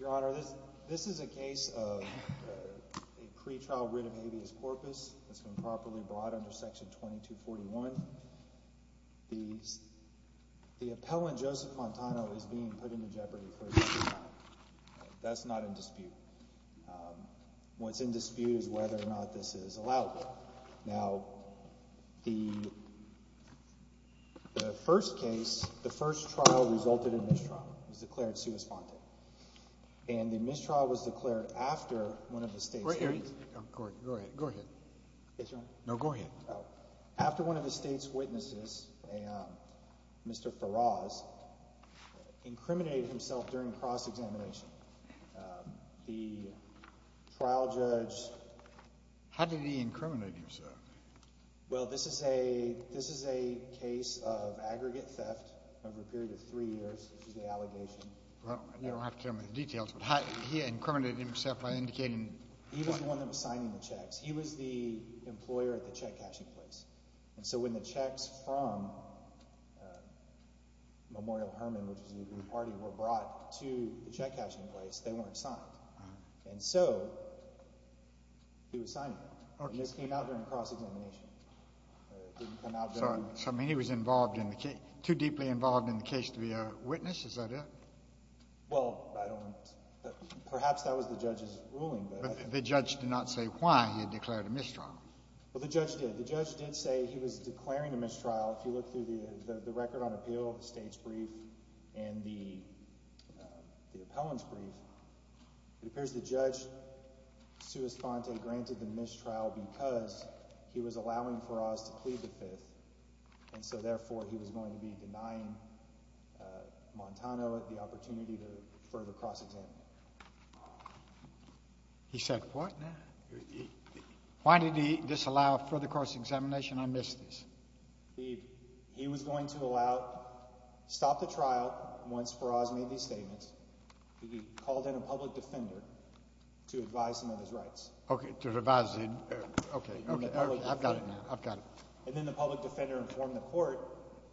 Your Honor, this is a case of a pre-trial writ of habeas corpus that has been properly brought under Section 2241. The appellant, Joseph Montano, is being put into jeopardy for this crime. That's not in dispute. What's in dispute is whether or not this is allowable. Now the first case, the first trial resulted in mistrial. It was declared sui sponte. And the mistrial was declared after one of the state's hearings. Go ahead. Yes, Your Honor. No, go ahead. After one of the state's witnesses, Mr. Faraz, incriminated himself during cross-examination. The trial judge How did he incriminate himself? Well, this is a case of aggregate theft over a period of three years, which is the allegation. You don't have to tell me the details, but he incriminated himself by indicating He was the one that was signing the checks. He was the employer at the check-cashing place. And so when the checks from Memorial Hermann, which was a group party, were brought to the check-cashing place, they weren't signed. And so he was signing them. And this came out during cross-examination. It didn't come out during So I mean he was involved in the case, too deeply involved in the case to be a witness? Is that it? Well, perhaps that was the judge's ruling. But the judge did not say why he had declared a mistrial. Well, the judge did. The judge did say he was declaring a mistrial. If you look through the record on appeal, the state's brief, and the appellant's brief, it appears the judge sui sponte granted the mistrial because he was allowing Faraz to plead the fifth. And so, therefore, he was going to be denying Montano the opportunity to further cross-examine. He said what now? Why did he disallow further cross-examination? I missed this. He was going to allow, stop the trial once Faraz made these statements. He called in a public defender to advise him of his rights. Okay, to advise him. Okay, okay. I've got it now. I've got it. And then the public defender informed the court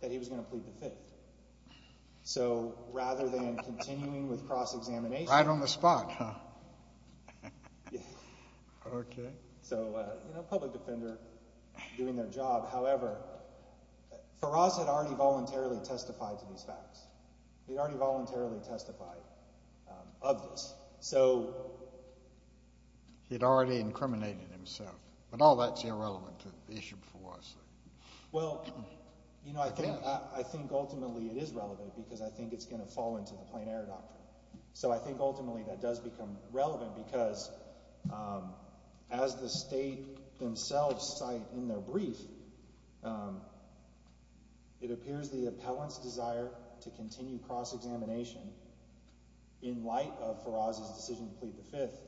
that he was going to plead the fifth. So, rather than continuing with cross-examination. Right on the spot, huh? Yeah. Okay. So, you know, public defender doing their job. However, Faraz had already voluntarily testified to these facts. He'd already voluntarily testified of this. So, he'd already incriminated himself. But all that's irrelevant to the issue before us. Well, you know, I think ultimately it is relevant because I think it's going to fall into the plein air doctrine. So, I think ultimately that does become relevant because as the state themselves cite in their decision to plead the fifth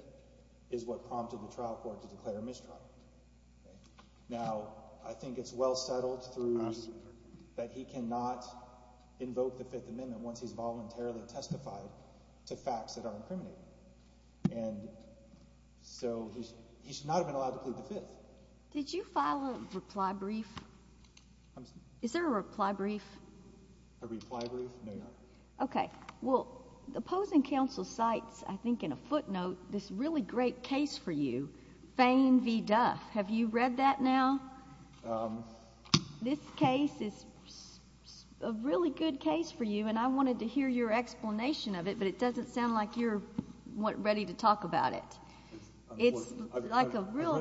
is what prompted the trial court to declare a mistrial. Now, I think it's well settled through that he cannot invoke the fifth amendment once he's voluntarily testified to facts that are incriminating. And so, he should not have been allowed to plead the fifth. Did you file a reply brief? Is there a reply brief? A reply brief? No. Okay. Well, the opposing counsel cites, I think in a footnote, this really great case for you, Fain v. Duff. Have you read that now? This case is a really good case for you, and I wanted to hear your explanation of it, but it doesn't sound like you're ready to talk about it. I've read a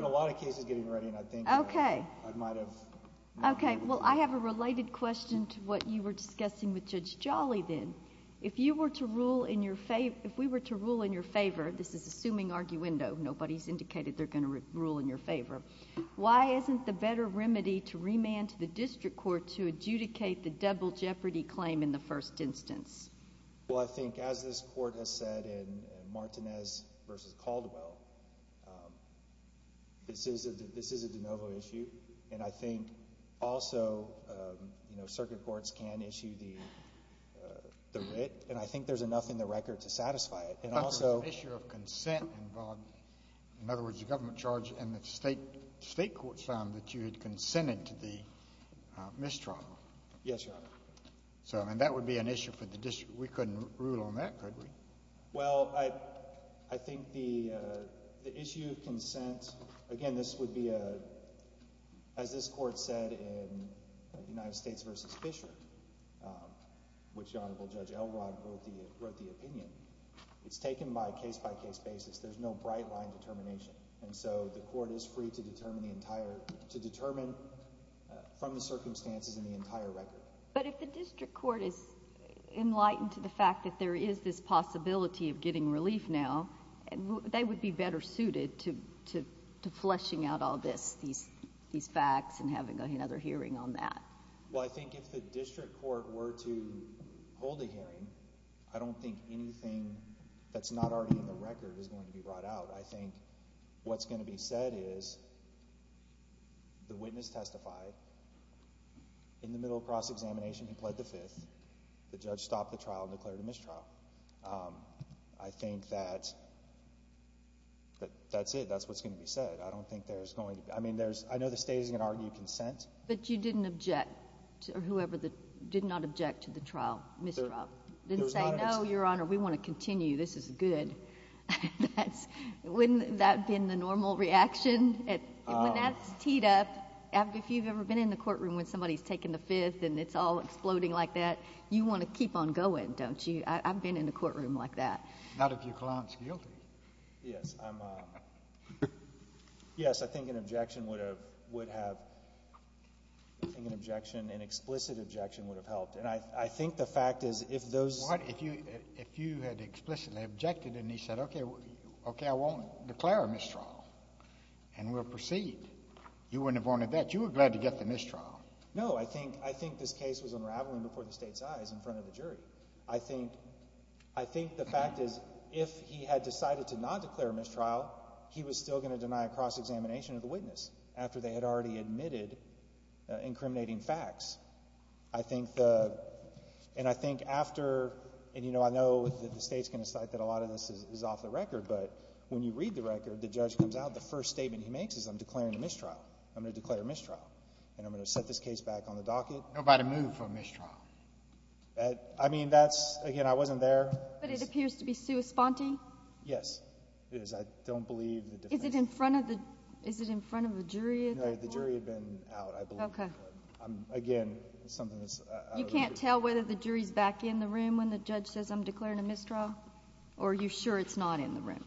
lot of cases getting ready, and I think I might have. Okay. Well, I have a related question to what you were discussing with Judge Jolly then. If you were to rule in your favor, if we were to rule in your favor, this is assuming arguendo, nobody's indicated they're going to rule in your favor. Why isn't the better remedy to remand to the district court to adjudicate the double jeopardy claim in the first instance? Well, I think as this court has said in Martinez v. Caldwell, this is a de novo issue. And I think also, you know, circuit courts can issue the writ, and I think there's enough in the record to satisfy it. And also... But there's an issue of consent involved. In other words, the government charged and the state courts found that you had consented to the mistrial. Yes, Your Honor. So, I mean, that would be an issue for the district. We couldn't rule on that, could we? Well, I think the issue of consent... again, this would be a... as this court said in United States v. Fisher, which Honorable Judge Elrod wrote the opinion, it's taken by a case-by-case basis. There's no bright-line determination. And so, the court is free to determine the entire... to determine from the circumstances in the entire record. But if the district court is enlightened to the fact that there is this possibility of getting relief now, they would be better suited to fleshing out all these facts and having another hearing on that. Well, I think if the district court were to hold a hearing, I don't think anything that's not already in the record is going to be brought out. I think what's going to be said is, the witness testified. In the middle of cross-examination, he pled the fifth. The judge stopped the trial and declared a mistrial. I think that... that's it. That's what's going to be said. I don't think there's going to... I mean, there's... I know the state isn't going to argue consent. But you didn't object to whoever... did not object to the trial... mistrial. Didn't say, no, Your Honor, we want to continue. This is good. That's... wouldn't that have been the normal reaction? When that's teed up... if you've ever been in the courtroom when somebody's taken the fifth and it's all exploding like that, you want to keep on going, don't you? I've been in a courtroom like that. Not a few clients guilty. Yes, I'm... yes, I think an objection would have... would have... I think an objection, an explicit objection would have helped. And I think the fact is, if those... Well, what if you had explicitly objected and he said, okay, I won't declare a mistrial and we'll proceed? You wouldn't have wanted that. You were glad to get the mistrial. No, I think this case was unraveling before the state's eyes in front of the jury. I think the fact is, if he had decided to not declare a mistrial, he was still going to deny a cross-examination of the witness after they had already admitted incriminating facts. I think the... and I think after... and, you know, I know that the state's going to decide that a lot of this is off the record, but when you read the record, the judge comes out, the first statement he makes is, I'm declaring a mistrial. I'm going to declare a mistrial. And I'm going to set this case back on the docket. Nobody moved for a mistrial. I mean, that's... again, I wasn't there. But it appears to be sui sponte? Yes, it is. I don't believe... Is it in front of the... is it in front of the jury at that point? No, the jury had been out, I believe. Okay. Again, it's something that's... You can't tell whether the jury's back in the room when the judge says, I'm declaring a mistrial? Or are you sure it's not in the room?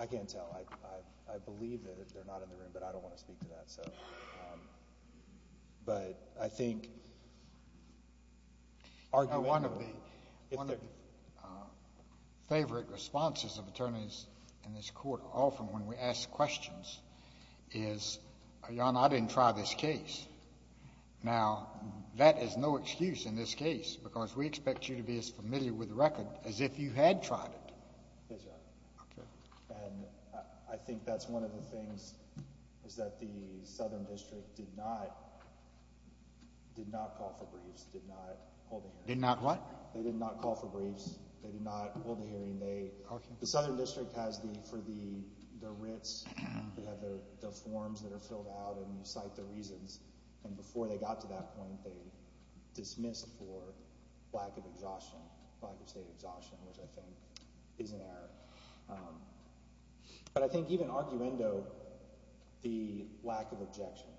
I can't tell. I believe that they're not in the room, but I don't want to speak to that. So... but I think... Arguably... One of the favorite responses of attorneys in this Court often when we ask questions is, Your Honor, I didn't try this case. Now, that is no excuse in this case because we expect you to be as familiar with the record as if you had tried it. Yes, Your Honor. Okay. And I think that's one of the things is that the Southern District did not... did not call for briefs, did not hold a hearing. Did not what? They did not call for briefs. They did not hold a hearing. Okay. The Southern District has the... for the writs, we have the forms that are filled out and you cite the reasons. And before they got to that point, they dismissed for lack of exhaustion, lack of state exhaustion, which I think is an error. But I think even arguendo, the lack of objection,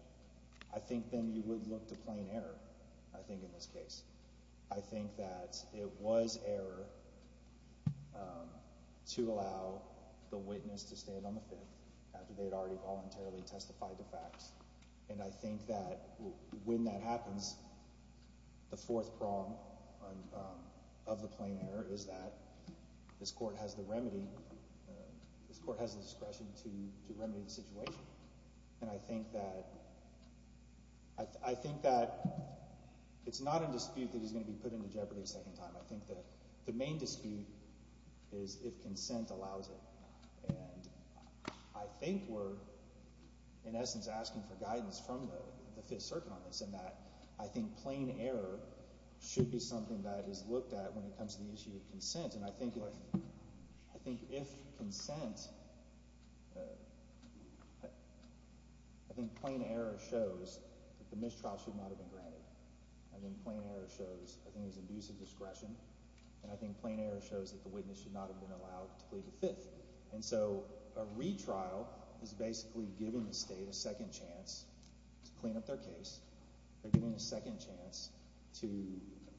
I think then you would look to plain error, I think, in this case. I think that it was error to allow the witness to stand on the field after they had already voluntarily testified to facts. And I think that when that happens, the fourth prong of the plain error is that this court has the remedy, this court has the discretion to remedy the situation. And I think that... I think that it's not a dispute that is going to be put into jeopardy a second time. I think that the main dispute is if consent allows it. And I think we're, in essence, asking for guidance from the Fifth Circuit on this in that I think plain error should be something that is looked at when it comes to the issue of consent. And I think if... I think if consent... I think plain error shows that the mistrial should not have been granted. I think plain error shows... I think it was an abuse of discretion. And I think plain error shows that the witness should not have been allowed to plead the Fifth. And so a retrial is basically giving the state a second chance to clean up their case. They're giving a second chance to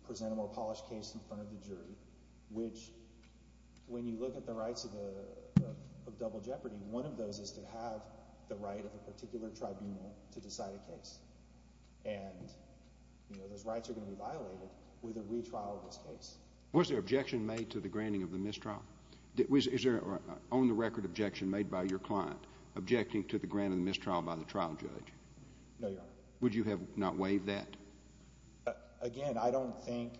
present a more polished case in front of the jury, which, when you look at the rights of double jeopardy, one of those is to have the right of a particular tribunal to decide a case. And, you know, those rights are going to be violated with a retrial of this case. Was there objection made to the granting of the mistrial? Is there an on-the-record objection made by your client objecting to the granting of the mistrial by the trial judge? No, Your Honor. Would you have not waived that? Again, I don't think...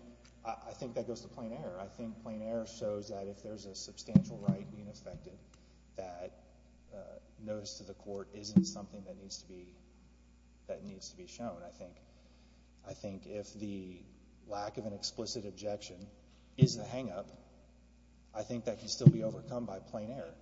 I think that goes to plain error. I think plain error shows that if there's a substantial right being affected, that notice to the court isn't something that needs to be... that needs to be shown. I think... I think if the lack of an explicit objection is the hang-up, I think that can still be overcome by plain error.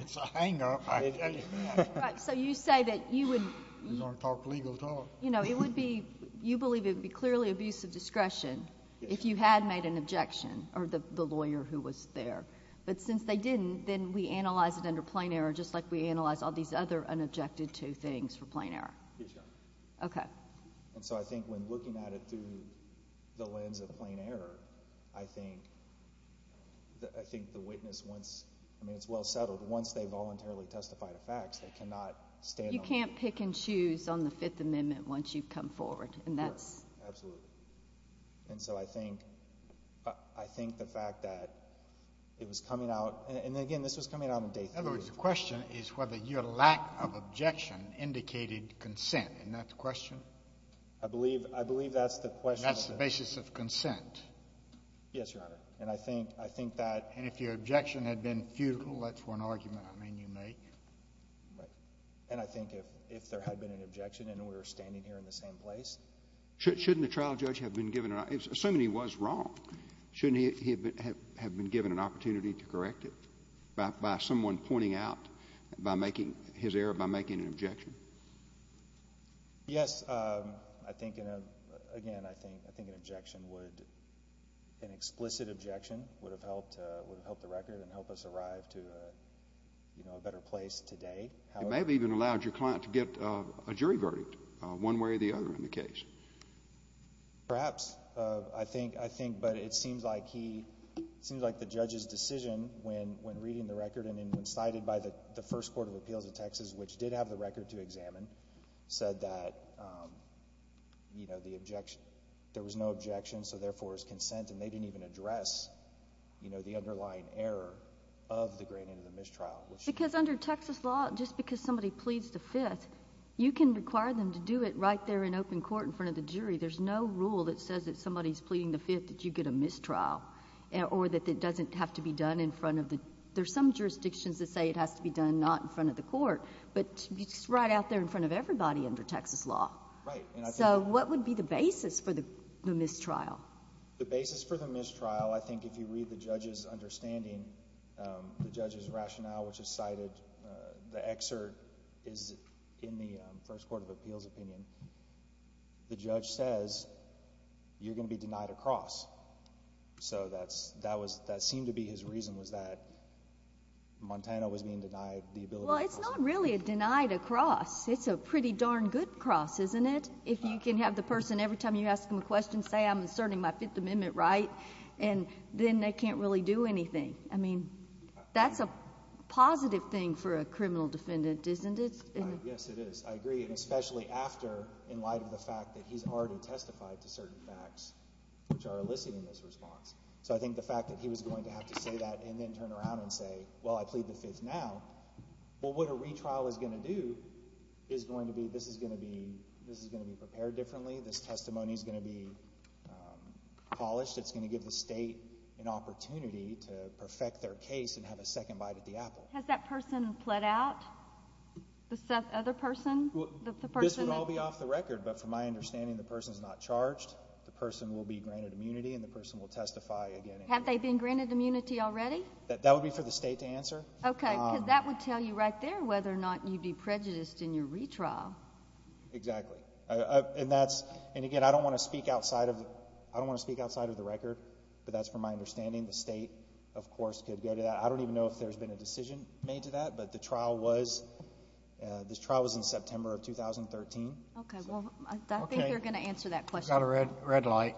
It's a hang-up. Right. So you say that you would... We don't talk legal at all. You know, it would be... you believe it would be clearly abuse of discretion if you had made an objection, or the lawyer who was there. But since they didn't, then we analyze it under plain error, just like we analyze all these other unobjected-to things for plain error. Yes, Your Honor. Okay. And so I think when looking at it through the lens of plain error, I think... I think the witness wants... I mean, it's well settled. Once they voluntarily testify to facts, they cannot stand... You can't pick and choose on the Fifth Amendment once you've come forward, and that's... Absolutely. And so I think... I think the fact that it was coming out... and again, this was coming out on day three. In other words, the question is whether your lack of objection indicated consent. Isn't that the question? I believe... I believe that's the question. That's the basis of consent. Yes, Your Honor. And I think... I think that... And if your objection had been futile, that's one argument I mean you make. Right. And I think if there had been an objection and we were standing here in the same place... Shouldn't the trial judge have been given an... Assuming he was wrong, shouldn't he have been given an opportunity to correct it by someone pointing out, by making his error, by making an objection? Yes. I think in a... Again, I think an objection would... an explicit objection would have helped... would have helped the record and helped us arrive to a better place today. It may have even allowed your client to get a jury verdict one way or the other in the case. Perhaps. I think... I think... But it seems like he... It seems like the judge's decision when reading the record and when cited by the First Court of Appeals of Texas, which did have the record to examine, said that, you know, the objection... There was no consent and they didn't even address, you know, the underlying error of the granted of the mistrial. Because under Texas law, just because somebody pleads the Fifth, you can require them to do it right there in open court in front of the jury. There's no rule that says that somebody's pleading the Fifth that you get a mistrial or that it doesn't have to be done in front of the... There's some jurisdictions that say it has to be done not in front of the court, but it's right out there in front of everybody under Texas law. Right. So, what would be the basis for the mistrial? The basis for the mistrial, I think if you read the judge's understanding, the judge's rationale, which is cited... The excerpt is in the First Court of Appeals opinion. The judge says, you're going to be denied a cross. So, that seemed to be his reason was that Montana was being denied the ability to cross. Well, it's not really a denied a cross. It's a pretty darn good cross, isn't it? If you can have the person, every time you ask them a question, say, I'm asserting my Fifth Amendment right, and then they can't really do anything. I mean, that's a positive thing for a criminal defendant, isn't it? Yes, it is. I agree, and especially after, in light of the fact that he's already testified to certain facts which are eliciting this response. So, I think the fact that he was going to have to say that and then turn around and say, well, I plead the Fifth now. Well, what a retrial is going to do is going to be, this is going to be prepared differently. This testimony is going to be polished. It's going to give the state an opportunity to perfect their case and have a second bite at the apple. Has that person fled out, the other person? This would all be off the record, but from my understanding, the person is not charged. The person will be granted immunity, and the person will testify again. That would be for the state to answer. Okay. Because that would tell you right there whether or not you'd be prejudiced in your retrial. Exactly. And that's, and again, I don't want to speak outside of the record, but that's from my understanding. The state, of course, could go to that. I don't even know if there's been a decision made to that, but the trial was, this trial was in September of 2013. Okay. Well, I think they're going to answer that question. We've got a red light.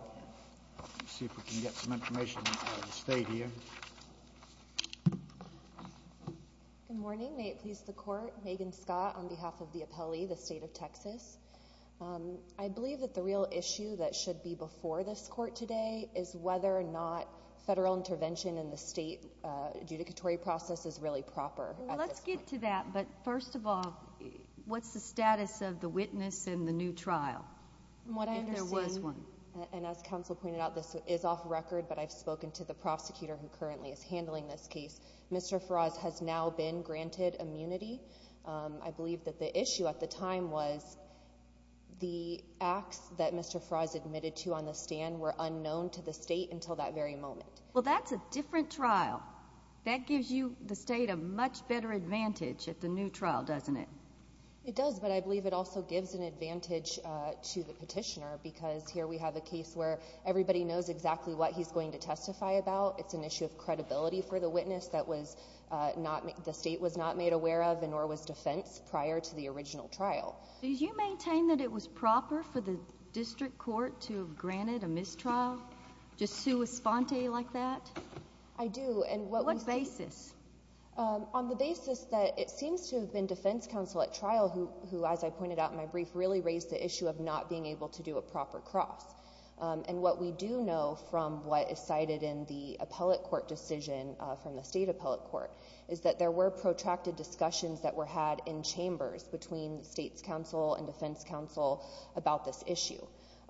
Let's see if we can get some information out of the state here. Good morning. May it please the Court. Megan Scott on behalf of the appellee, the state of Texas. I believe that the real issue that should be before this court today is whether or not federal intervention in the state adjudicatory process is really proper. Let's get to that, but first of all, what's the status of the witness in the new trial? If there was one. And as counsel pointed out, this is off record, but I've spoken to the prosecutor who currently is handling this case. Mr. Faraz has now been granted immunity. I believe that the issue at the time was the acts that Mr. Faraz admitted to on the stand were unknown to the state until that very moment. Well, that's a different trial. That gives you, the state, a much better advantage at the new trial, doesn't it? It does, but I believe it also gives an advantage to the petitioner, because here we have a case where everybody knows exactly what he's going to testify about. It's an issue of credibility for the witness that the state was not made aware of, and nor was defense prior to the original trial. Did you maintain that it was proper for the district court to have granted a mistrial, just sui sponte like that? I do. On what basis? On the basis that it seems to have been defense counsel at trial who, as I pointed out in my brief, really raised the issue of not being able to do a proper cross. What we do know from what is cited in the appellate court decision from the state appellate court is that there were protracted discussions that were had in chambers between state's counsel and defense counsel about this issue.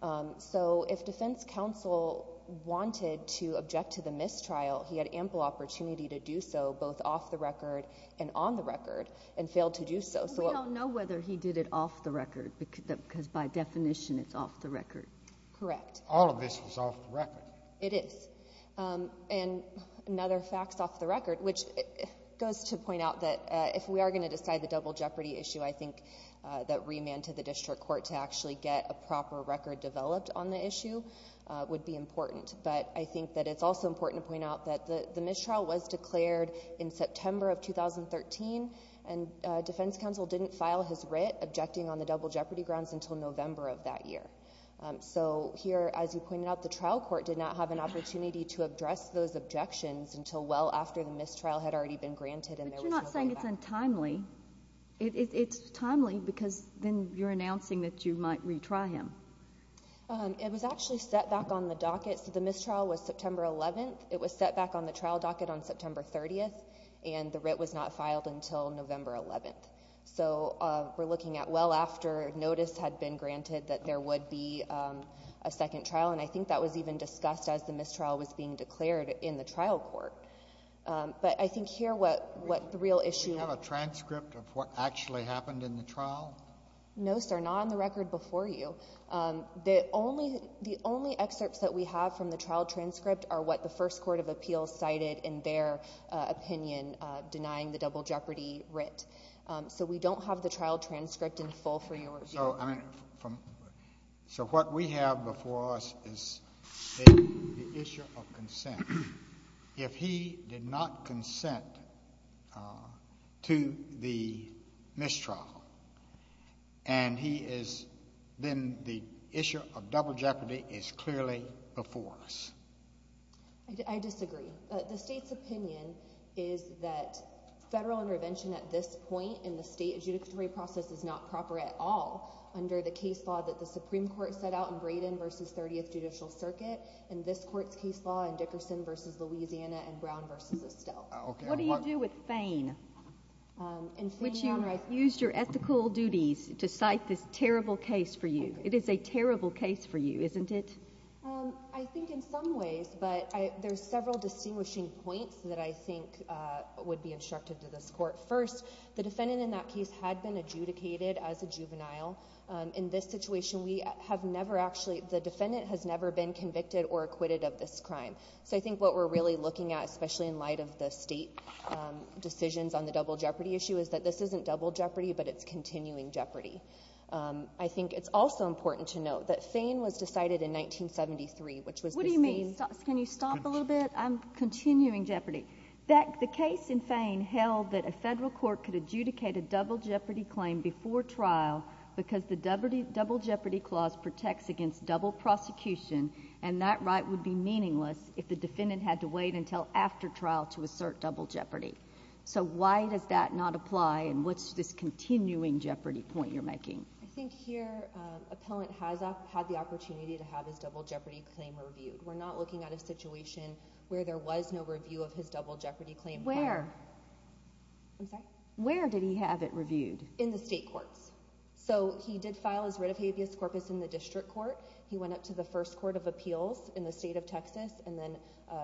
If defense counsel wanted to object to the mistrial, he had ample opportunity to do so both off the record and on the record, and failed to do so. We don't know whether he did it off the record, because by definition it's off the record. Correct. All of this was off the record. It is. Another fact's off the record, which goes to point out that if we are going to decide the double jeopardy issue, I think that remand to the district court to actually get a proper record developed on the issue would be important. I think that it's also important to point out that the mistrial was declared in September of 2013, and defense counsel didn't file his writ objecting on the double jeopardy grounds until November of that year. Here, as you pointed out, the trial court did not have an opportunity to address those objections until well after the mistrial had already been granted and there was no way back. But you're not saying it's untimely. It's timely because then you're announcing that you might retry him. It was actually set back on the docket. The mistrial was September 11th. It was set back on the trial docket on September 30th, and the writ was not filed until November 11th. So we're looking at well after notice had been granted that there would be a second trial, and I think that was even discussed as the mistrial was being declared in the trial court. But I think here what the real issue— Do you have a transcript of what actually happened in the trial? No, sir. Not on the record before you. The only excerpts that we have from the trial transcript are what the first court of appeals cited in their opinion denying the double jeopardy writ. So we don't have the trial transcript in full for you. So what we have before us is the issue of consent. If he did not consent to the mistrial, then the issue of double jeopardy is clearly before us. I disagree. The state's opinion is that federal intervention at this point in the state adjudicatory process is not proper at all under the case law that the Supreme Court set out in Braden v. 30th Judicial Circuit. And this court's case law in Dickerson v. Louisiana and Brown v. Estelle. Okay. What do you do with Fein? In Fein, Your Honor— Which you used your ethical duties to cite this terrible case for you. It is a terrible case for you, isn't it? I think in some ways, but there's several distinguishing points that I think would be instructed to this court. First, the defendant in that case had been adjudicated as a juvenile. In this situation, we have never actually—the defendant has never been convicted or acquitted of this crime. So I think what we're really looking at, especially in light of the state decisions on the double jeopardy issue, is that this isn't double jeopardy, but it's continuing jeopardy. I think it's also important to note that Fein was decided in 1973, which was the same— What do you mean? Can you stop a little bit? I'm continuing jeopardy. The case in Fein held that a federal court could adjudicate a double jeopardy claim before trial because the double jeopardy clause protects against double prosecution, and that right would be meaningless if the defendant had to wait until after trial to assert double jeopardy. So why does that not apply, and what's this continuing jeopardy point you're making? I think here, appellant has had the opportunity to have his double jeopardy claim reviewed. We're not looking at a situation where there was no review of his double jeopardy claim. Where? I'm sorry? Where did he have it reviewed? In the state courts. So he did file his writ of habeas corpus in the district court. He went up to the first court of appeals in the state of Texas, and then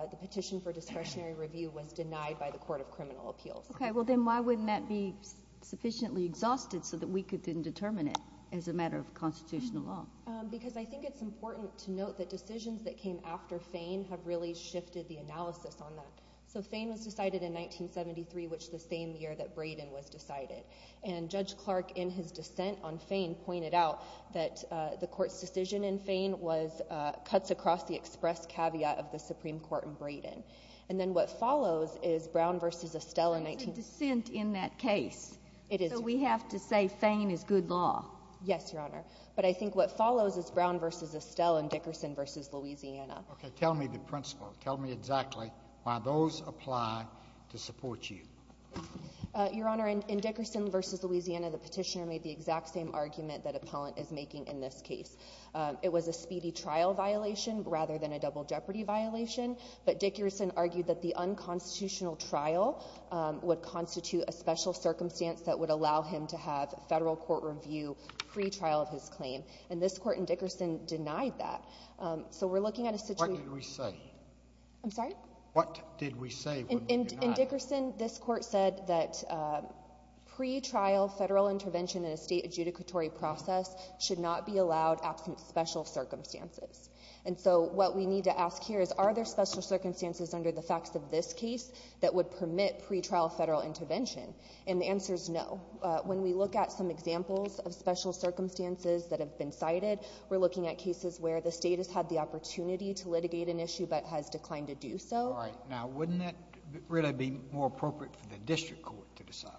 the petition for discretionary review was denied by the court of criminal appeals. Okay, well then why wouldn't that be sufficiently exhausted so that we could then determine it as a matter of constitutional law? Because I think it's important to note that decisions that came after Fein have really shifted the analysis on that. So Fein was decided in 1973, which is the same year that Brayden was decided. And Judge Clark, in his dissent on Fein, pointed out that the court's decision in Fein cuts across the express caveat of the Supreme Court in Brayden. And then what follows is Brown v. Estelle in 19— That's a dissent in that case. It is. So we have to say Fein is good law. Yes, Your Honor. But I think what follows is Brown v. Estelle and Dickerson v. Louisiana. Okay, tell me the principle. Tell me exactly why those apply to support you. Your Honor, in Dickerson v. Louisiana, the petitioner made the exact same argument that appellant is making in this case. It was a speedy trial violation rather than a double jeopardy violation. But Dickerson argued that the unconstitutional trial would constitute a special circumstance that would allow him to have federal court review pre-trial of his claim. And this court in Dickerson denied that. So we're looking at a situation— What did we say? I'm sorry? What did we say when we denied? In Dickerson, this court said that pre-trial federal intervention in a state adjudicatory process should not be allowed absent special circumstances. And so what we need to ask here is are there special circumstances under the facts of this case that would permit pre-trial federal intervention? And the answer is no. When we look at some examples of special circumstances that have been cited, we're looking at cases where the state has had the opportunity to litigate an issue but has declined to do so. All right. Now, wouldn't that really be more appropriate for the district court to decide?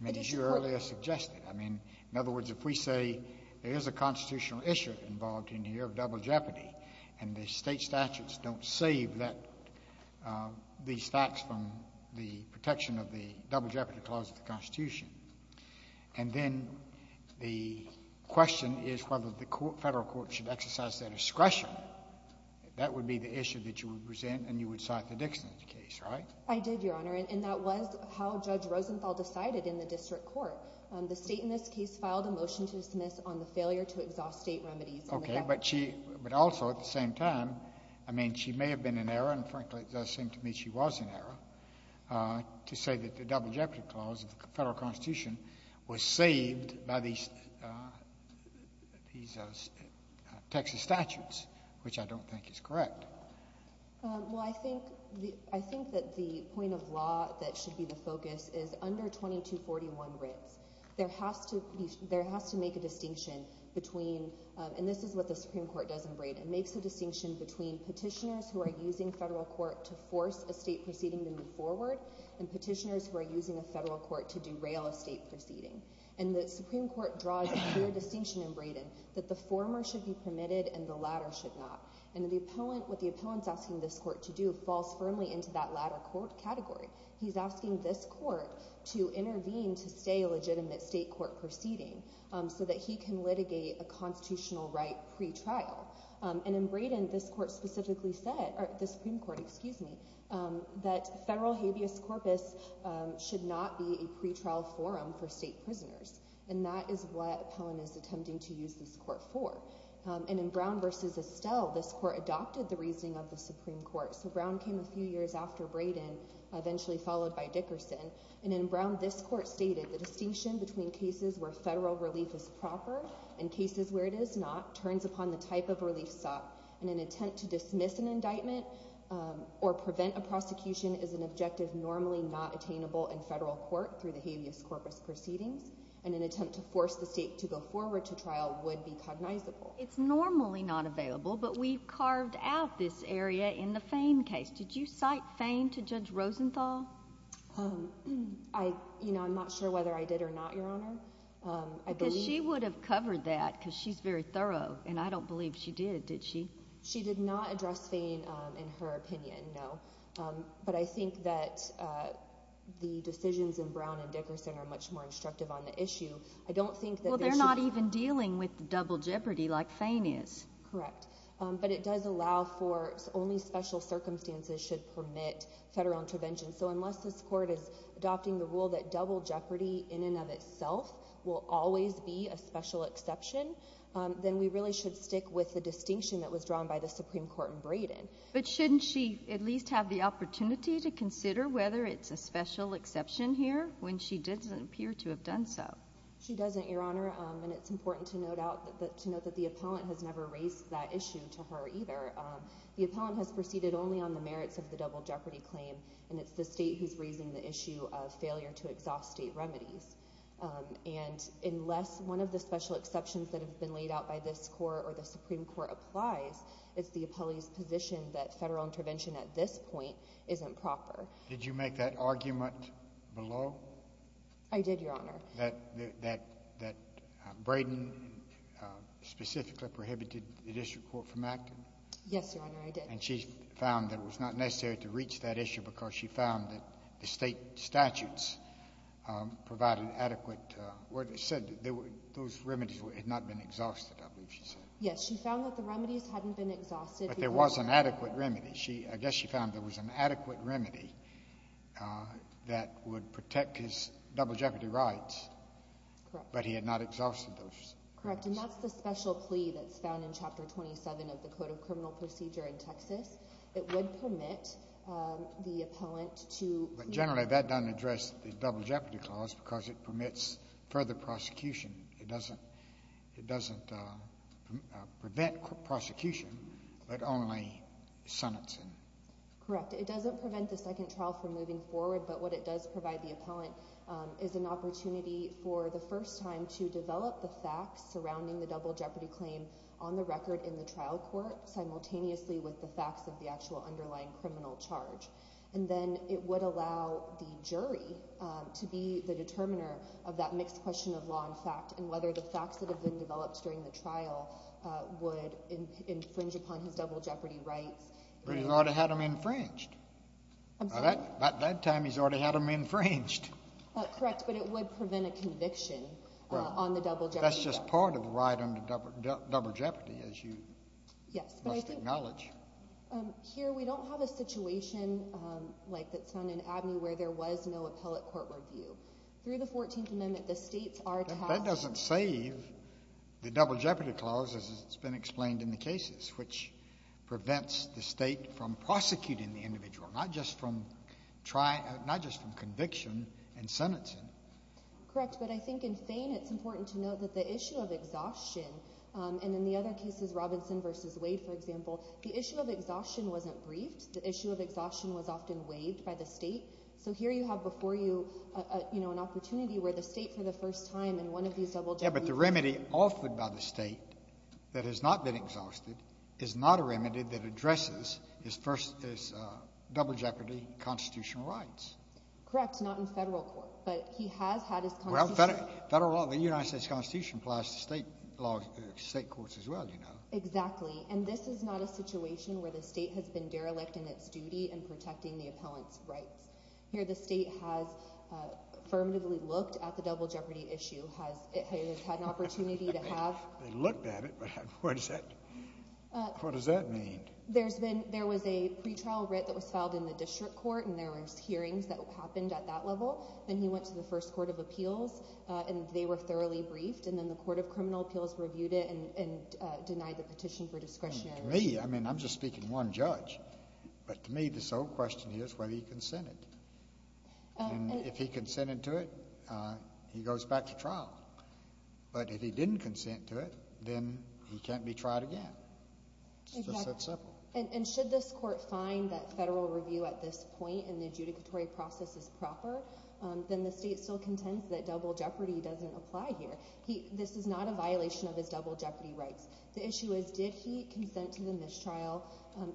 I mean, as you earlier suggested. I mean, in other words, if we say there is a constitutional issue involved in here of double jeopardy and the state statutes don't save these facts from the protection of the double jeopardy clause of the Constitution, and then the question is whether the federal court should exercise their discretion, that would be the issue that you would present and you would cite the Dickerson case, right? I did, Your Honor, and that was how Judge Rosenthal decided in the district court. The state in this case filed a motion to dismiss on the failure to exhaust state remedies. Okay. But also at the same time, I mean, she may have been in error, and frankly it does seem to me she was in error, to say that the double jeopardy clause of the federal Constitution was saved by these Texas statutes, which I don't think is correct. Well, I think that the point of law that should be the focus is under 2241 Ritz. There has to make a distinction between, and this is what the Supreme Court does in Braid, it makes a distinction between petitioners who are using federal court to force a state proceeding to move forward and petitioners who are using a federal court to derail a state proceeding, and the Supreme Court draws a clear distinction in Braid that the former should be permitted and the latter should not, and what the appellant's asking this court to do falls firmly into that latter court category. He's asking this court to intervene to stay a legitimate state court proceeding so that he can litigate a constitutional right pretrial. And in Braiden, this court specifically said, or the Supreme Court, excuse me, that federal habeas corpus should not be a pretrial forum for state prisoners, and that is what appellant is attempting to use this court for. And in Brown v. Estelle, this court adopted the reasoning of the Supreme Court, so Brown came a few years after Braiden, eventually followed by Dickerson, and in Brown, this court stated the distinction between cases where federal relief is proper and cases where it is not turns upon the type of relief sought, and an attempt to dismiss an indictment or prevent a prosecution is an objective normally not attainable in federal court through the habeas corpus proceedings, and an attempt to force the state to go forward to trial would be cognizable. It's normally not available, but we've carved out this area in the Fain case. Did you cite Fain to Judge Rosenthal? I'm not sure whether I did or not, Your Honor. Because she would have covered that because she's very thorough, and I don't believe she did, did she? She did not address Fain in her opinion, no. But I think that the decisions in Brown and Dickerson are much more instructive on the issue. Well, they're not even dealing with the double jeopardy like Fain is. Correct. But it does allow for only special circumstances should permit federal intervention. So unless this court is adopting the rule that double jeopardy in and of itself will always be a special exception, then we really should stick with the distinction that was drawn by the Supreme Court in Braden. But shouldn't she at least have the opportunity to consider whether it's a special exception here when she doesn't appear to have done so? She doesn't, Your Honor, and it's important to note that the appellant has never raised that issue to her either. The appellant has proceeded only on the merits of the double jeopardy claim, and it's the state who's raising the issue of failure to exhaust state remedies. And unless one of the special exceptions that have been laid out by this court or the Supreme Court applies, it's the appellee's position that federal intervention at this point isn't proper. Did you make that argument below? I did, Your Honor. That Braden specifically prohibited the district court from acting? Yes, Your Honor, I did. And she found that it was not necessary to reach that issue because she found that the state statutes provided adequate where it said that those remedies had not been exhausted, I believe she said. Yes, she found that the remedies hadn't been exhausted. But there was an adequate remedy. I guess she found there was an adequate remedy that would protect his double jeopardy rights. Correct. But he had not exhausted those. Correct. And that's the special plea that's found in Chapter 27 of the Code of Criminal Procedure in Texas. It would permit the appellant to... But generally that doesn't address the double jeopardy clause because it permits further prosecution. It doesn't prevent prosecution but only sentencing. Correct. It doesn't prevent the second trial from moving forward, but what it does provide the appellant is an opportunity for the first time to develop the facts surrounding the double jeopardy claim on the record in the trial court simultaneously with the facts of the actual underlying criminal charge. And then it would allow the jury to be the determiner of that mixed question of law and fact and whether the facts that have been developed during the trial would infringe upon his double jeopardy rights. But he's already had them infringed. I'm sorry? By that time he's already had them infringed. Correct. But it would prevent a conviction on the double jeopardy. That's just part of the right under double jeopardy, as you must acknowledge. Here we don't have a situation like that's found in Abney where there was no appellate court review. Through the 14th Amendment the states are tasked... That doesn't save the double jeopardy clause as it's been explained in the cases, which prevents the state from prosecuting the individual, not just from conviction and sentencing. Correct. But I think in Thane it's important to note that the issue of exhaustion, and in the other cases, Robinson v. Wade, for example, the issue of exhaustion wasn't briefed. The issue of exhaustion was often waived by the state. So here you have before you an opportunity where the state for the first time in one of these double jeopardy... Yeah, but the remedy offered by the state that has not been exhausted is not a remedy that addresses his double jeopardy constitutional rights. Correct, not in federal court, but he has had his constitutional rights. Federal law in the United States Constitution applies to state courts as well, you know. Exactly, and this is not a situation where the state has been derelict in its duty in protecting the appellant's rights. Here the state has affirmatively looked at the double jeopardy issue. It has had an opportunity to have... They looked at it, but what does that mean? There was a pretrial writ that was filed in the district court, and there were hearings that happened at that level. Then he went to the first court of appeals, and they were thoroughly briefed, and then the court of criminal appeals reviewed it and denied the petition for discretionary... To me, I mean I'm just speaking one judge, but to me the sole question is whether he consented. And if he consented to it, he goes back to trial. But if he didn't consent to it, then he can't be tried again. It's just that simple. And should this court find that federal review at this point in the adjudicatory process is proper, then the state still contends that double jeopardy doesn't apply here. This is not a violation of his double jeopardy rights. The issue is did he consent to the mistrial,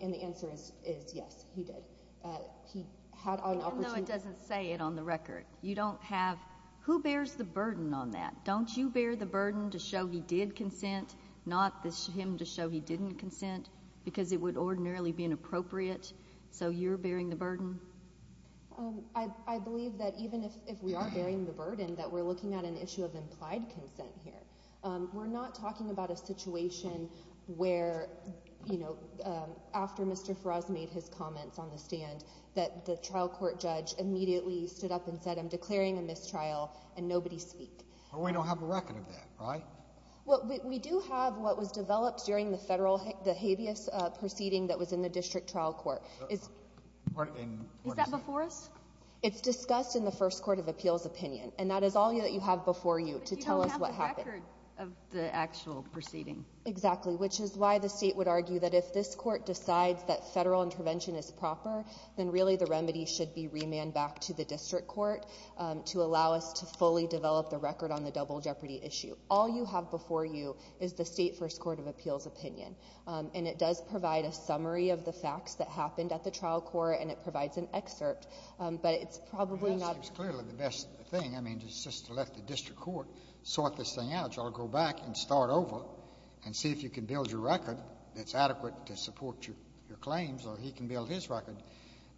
and the answer is yes, he did. He had an opportunity... Even though it doesn't say it on the record. You don't have... Who bears the burden on that? Don't you bear the burden to show he did consent, not him to show he didn't consent, because it would ordinarily be inappropriate? So you're bearing the burden? I believe that even if we are bearing the burden, that we're looking at an issue of implied consent here. We're not talking about a situation where, you know, after Mr. Faraz made his comments on the stand, that the trial court judge immediately stood up and said, I'm declaring a mistrial, and nobody speak. But we don't have a record of that, right? Well, we do have what was developed during the federal habeas proceeding that was in the district trial court. Is that before us? It's discussed in the first court of appeals opinion, and that is all that you have before you to tell us what happened. But you don't have the record of the actual proceeding. Exactly, which is why the state would argue that if this court decides that federal intervention is proper, then really the remedy should be remanded back to the district court to allow us to fully develop the record on the double jeopardy issue. All you have before you is the state first court of appeals opinion, and it does provide a summary of the facts that happened at the trial court, and it provides an excerpt, but it's probably not. It's clearly the best thing. I mean, just to let the district court sort this thing out, so I'll go back and start over and see if you can build your record that's adequate to support your claims, or he can build his record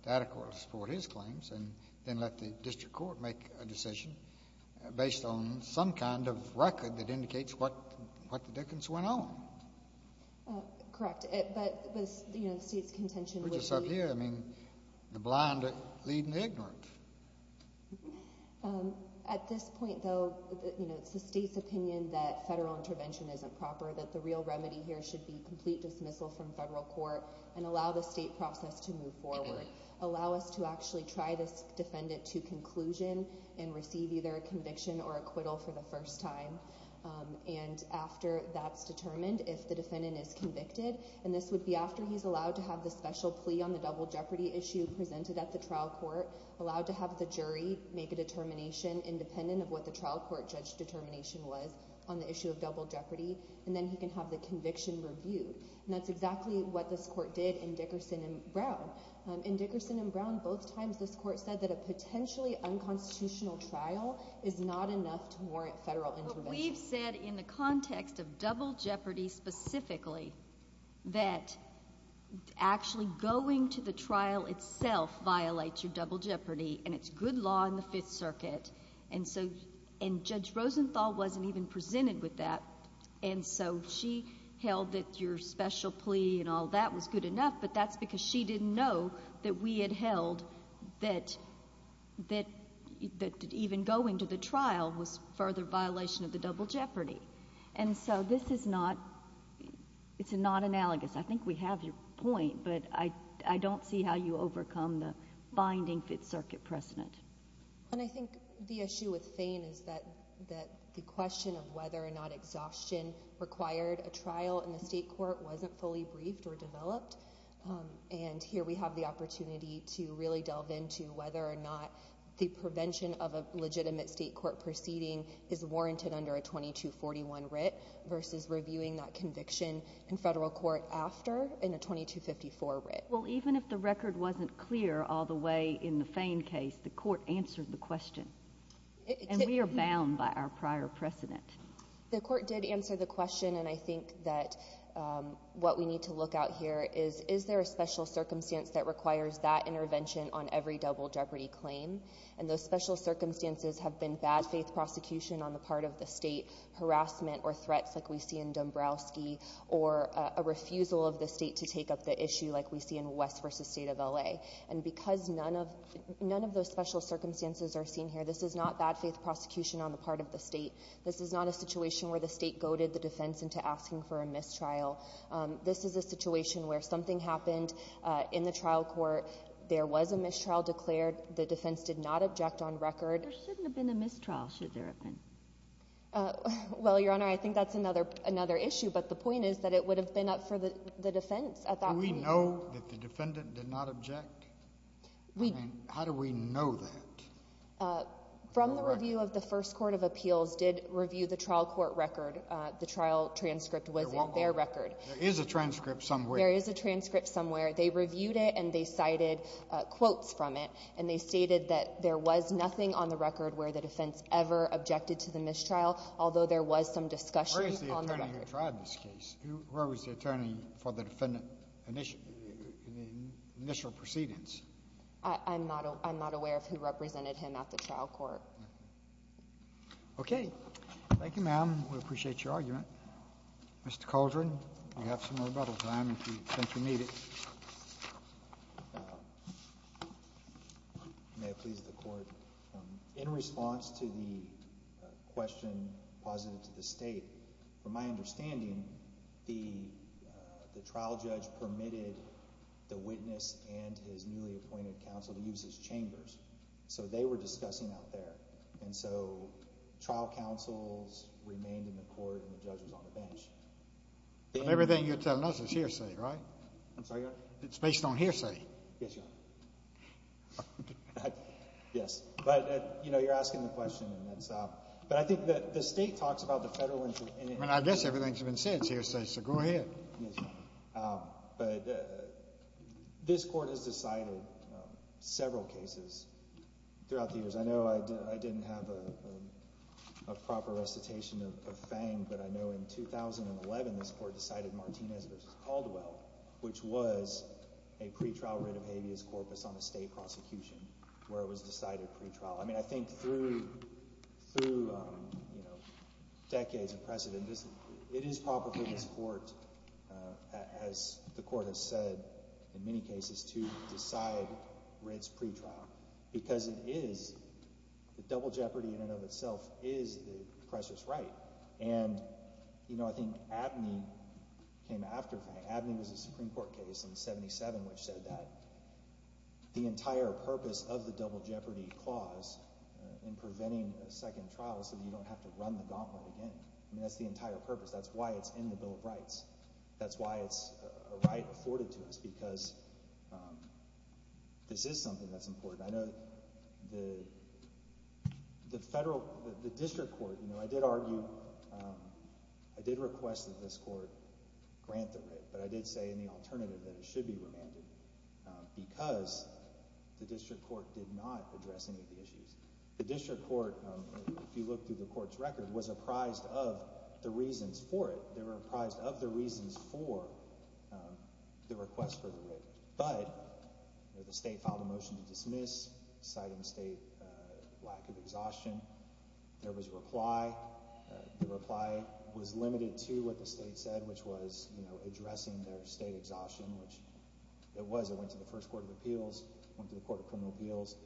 to adequately support his claims, and then let the district court make a decision based on some kind of record that indicates what the dickens went on. Correct, but the state's contention would be. Which is up here. I mean, the blind leading the ignorant. At this point, though, it's the state's opinion that federal intervention isn't proper, that the real remedy here should be complete dismissal from federal court and allow the state process to move forward, allow us to actually try this defendant to conclusion and receive either a conviction or acquittal for the first time, and after that's determined, if the defendant is convicted, and this would be after he's allowed to have the special plea on the double jeopardy issue presented at the trial court, allowed to have the jury make a determination independent of what the trial court judge determination was on the issue of double jeopardy, and then he can have the conviction reviewed, and that's exactly what this court did in Dickerson and Brown. In Dickerson and Brown, both times this court said that a potentially unconstitutional trial is not enough to warrant federal intervention. We've said in the context of double jeopardy specifically that actually going to the trial itself violates your double jeopardy, and it's good law in the Fifth Circuit, and Judge Rosenthal wasn't even presented with that, and so she held that your special plea and all that was good enough, but that's because she didn't know that we had held that even going to the trial was further violation of the double jeopardy, and so this is not analogous. I think we have your point, but I don't see how you overcome the binding Fifth Circuit precedent. I think the issue with Fein is that the question of whether or not exhaustion required a trial in the state court wasn't fully briefed or developed, and here we have the opportunity to really delve into whether or not the prevention of a legitimate state court proceeding is warranted under a 2241 writ versus reviewing that conviction in federal court after in a 2254 writ. Well, even if the record wasn't clear all the way in the Fein case, the court answered the question, and we are bound by our prior precedent. The court did answer the question, and I think that what we need to look out here is is there a special circumstance that requires that intervention on every double jeopardy claim, and those special circumstances have been bad faith prosecution on the part of the state, harassment or threats like we see in Dombrowski or a refusal of the state to take up the issue like we see in West v. State of L.A., and because none of those special circumstances are seen here, this is not bad faith prosecution on the part of the state. This is not a situation where the state goaded the defense into asking for a mistrial. This is a situation where something happened in the trial court. There was a mistrial declared. The defense did not object on record. Well, Your Honor, I think that's another issue, but the point is that it would have been up for the defense at that point. Do we know that the defendant did not object? How do we know that? From the review of the first court of appeals did review the trial court record. The trial transcript was in their record. There is a transcript somewhere. There is a transcript somewhere. They reviewed it, and they cited quotes from it, and they stated that there was nothing on the record where the defense ever objected to the mistrial, although there was some discussion on the record. Where is the attorney who tried this case? Where was the attorney for the defendant in the initial proceedings? I'm not aware of who represented him at the trial court. Okay. Thank you, ma'am. We appreciate your argument. Mr. Caldren, you have some rebuttal time if you think you need it. May it please the court. In response to the question positive to the state, from my understanding, the trial judge permitted the witness and his newly appointed counsel to use his chambers. So they were discussing out there. And so trial counsels remained in the court and the judge was on the bench. Everything you're telling us is hearsay, right? I'm sorry, Your Honor? It's based on hearsay. Yes, Your Honor. Yes. But, you know, you're asking the question. But I think the state talks about the federal interest. I mean, I guess everything's been said. It's hearsay, so go ahead. Yes, Your Honor. But this court has decided several cases throughout the years. I know I didn't have a proper recitation of Fang, but I know in 2011 this court decided Martinez v. Caldwell, which was a pretrial writ of habeas corpus on a state prosecution where it was decided pretrial. I mean, I think through decades of precedent, it is proper for this court, as the court has said in many cases, to decide Ritt's pretrial because it is the double jeopardy in and of itself is the precious right. And, you know, I think Abney came after Fang. Abney was a Supreme Court case in 77 which said that the entire purpose of the double jeopardy clause in preventing a second trial is so that you don't have to run the gauntlet again. I mean, that's the entire purpose. That's why it's in the Bill of Rights. That's why it's a right afforded to us because this is something that's important. I know the district court, you know, I did argue, I did request that this court grant the right, but I did say in the alternative that it should be remanded because the district court did not address any of the issues. The district court, if you look through the court's record, was apprised of the reasons for it. They were apprised of the reasons for the request for the right, but the state filed a motion to dismiss citing state lack of exhaustion. There was a reply. The reply was limited to what the state said, which was, you know, addressing the state exhaustion, which it was. It went to the first court of appeals, went to the court of criminal appeals.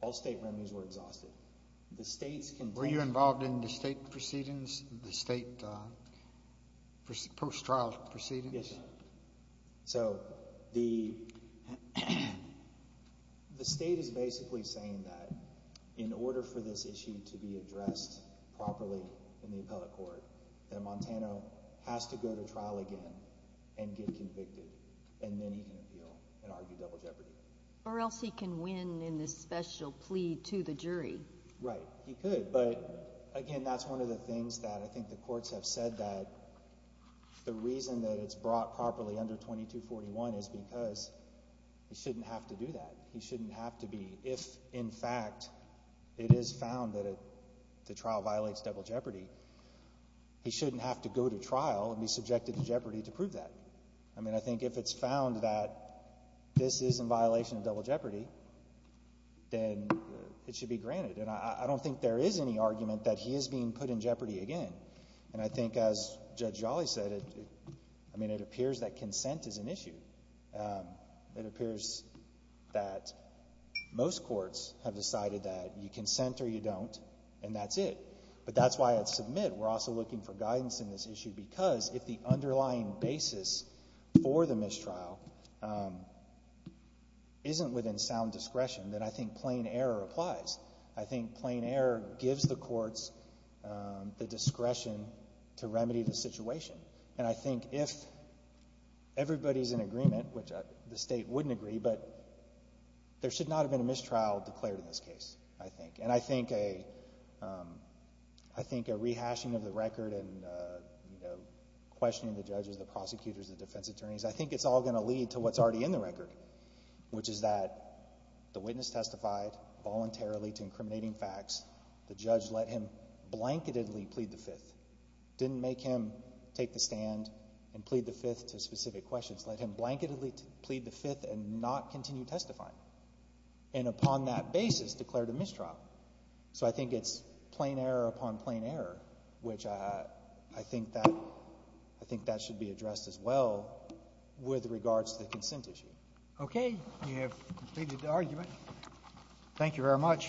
All state remedies were exhausted. Were you involved in the state proceedings, the state post-trial proceedings? Yes, sir. So the state is basically saying that in order for this issue to be addressed properly in the appellate court, that a Montano has to go to trial again and get convicted, and then he can appeal and argue double jeopardy. Or else he can win in this special plea to the jury. Right, he could. But, again, that's one of the things that I think the courts have said that the reason that it's brought properly under 2241 is because he shouldn't have to do that. He shouldn't have to be. If, in fact, it is found that the trial violates double jeopardy, he shouldn't have to go to trial and be subjected to jeopardy to prove that. I mean, I think if it's found that this is in violation of double jeopardy, then it should be granted. And I don't think there is any argument that he is being put in jeopardy again. And I think, as Judge Jolly said, I mean, it appears that consent is an issue. It appears that most courts have decided that you consent or you don't, and that's it. But that's why at submit we're also looking for guidance in this issue because if the underlying basis for the mistrial isn't within sound discretion, then I think plain error applies. I think plain error gives the courts the discretion to remedy the situation. And I think if everybody is in agreement, which the state wouldn't agree, but there should not have been a mistrial declared in this case, I think. And I think a rehashing of the record and questioning the judges, the prosecutors, the defense attorneys, I think it's all going to lead to what's already in the record, which is that the witness testified voluntarily to incriminating facts. The judge let him blanketedly plead the Fifth, didn't make him take the stand and plead the Fifth to specific questions, let him blanketedly plead the Fifth and not continue testifying, and upon that basis declared a mistrial. So I think it's plain error upon plain error, which I think that should be addressed as well with regards to the consent issue. Okay. We have completed the argument. Thank you very much.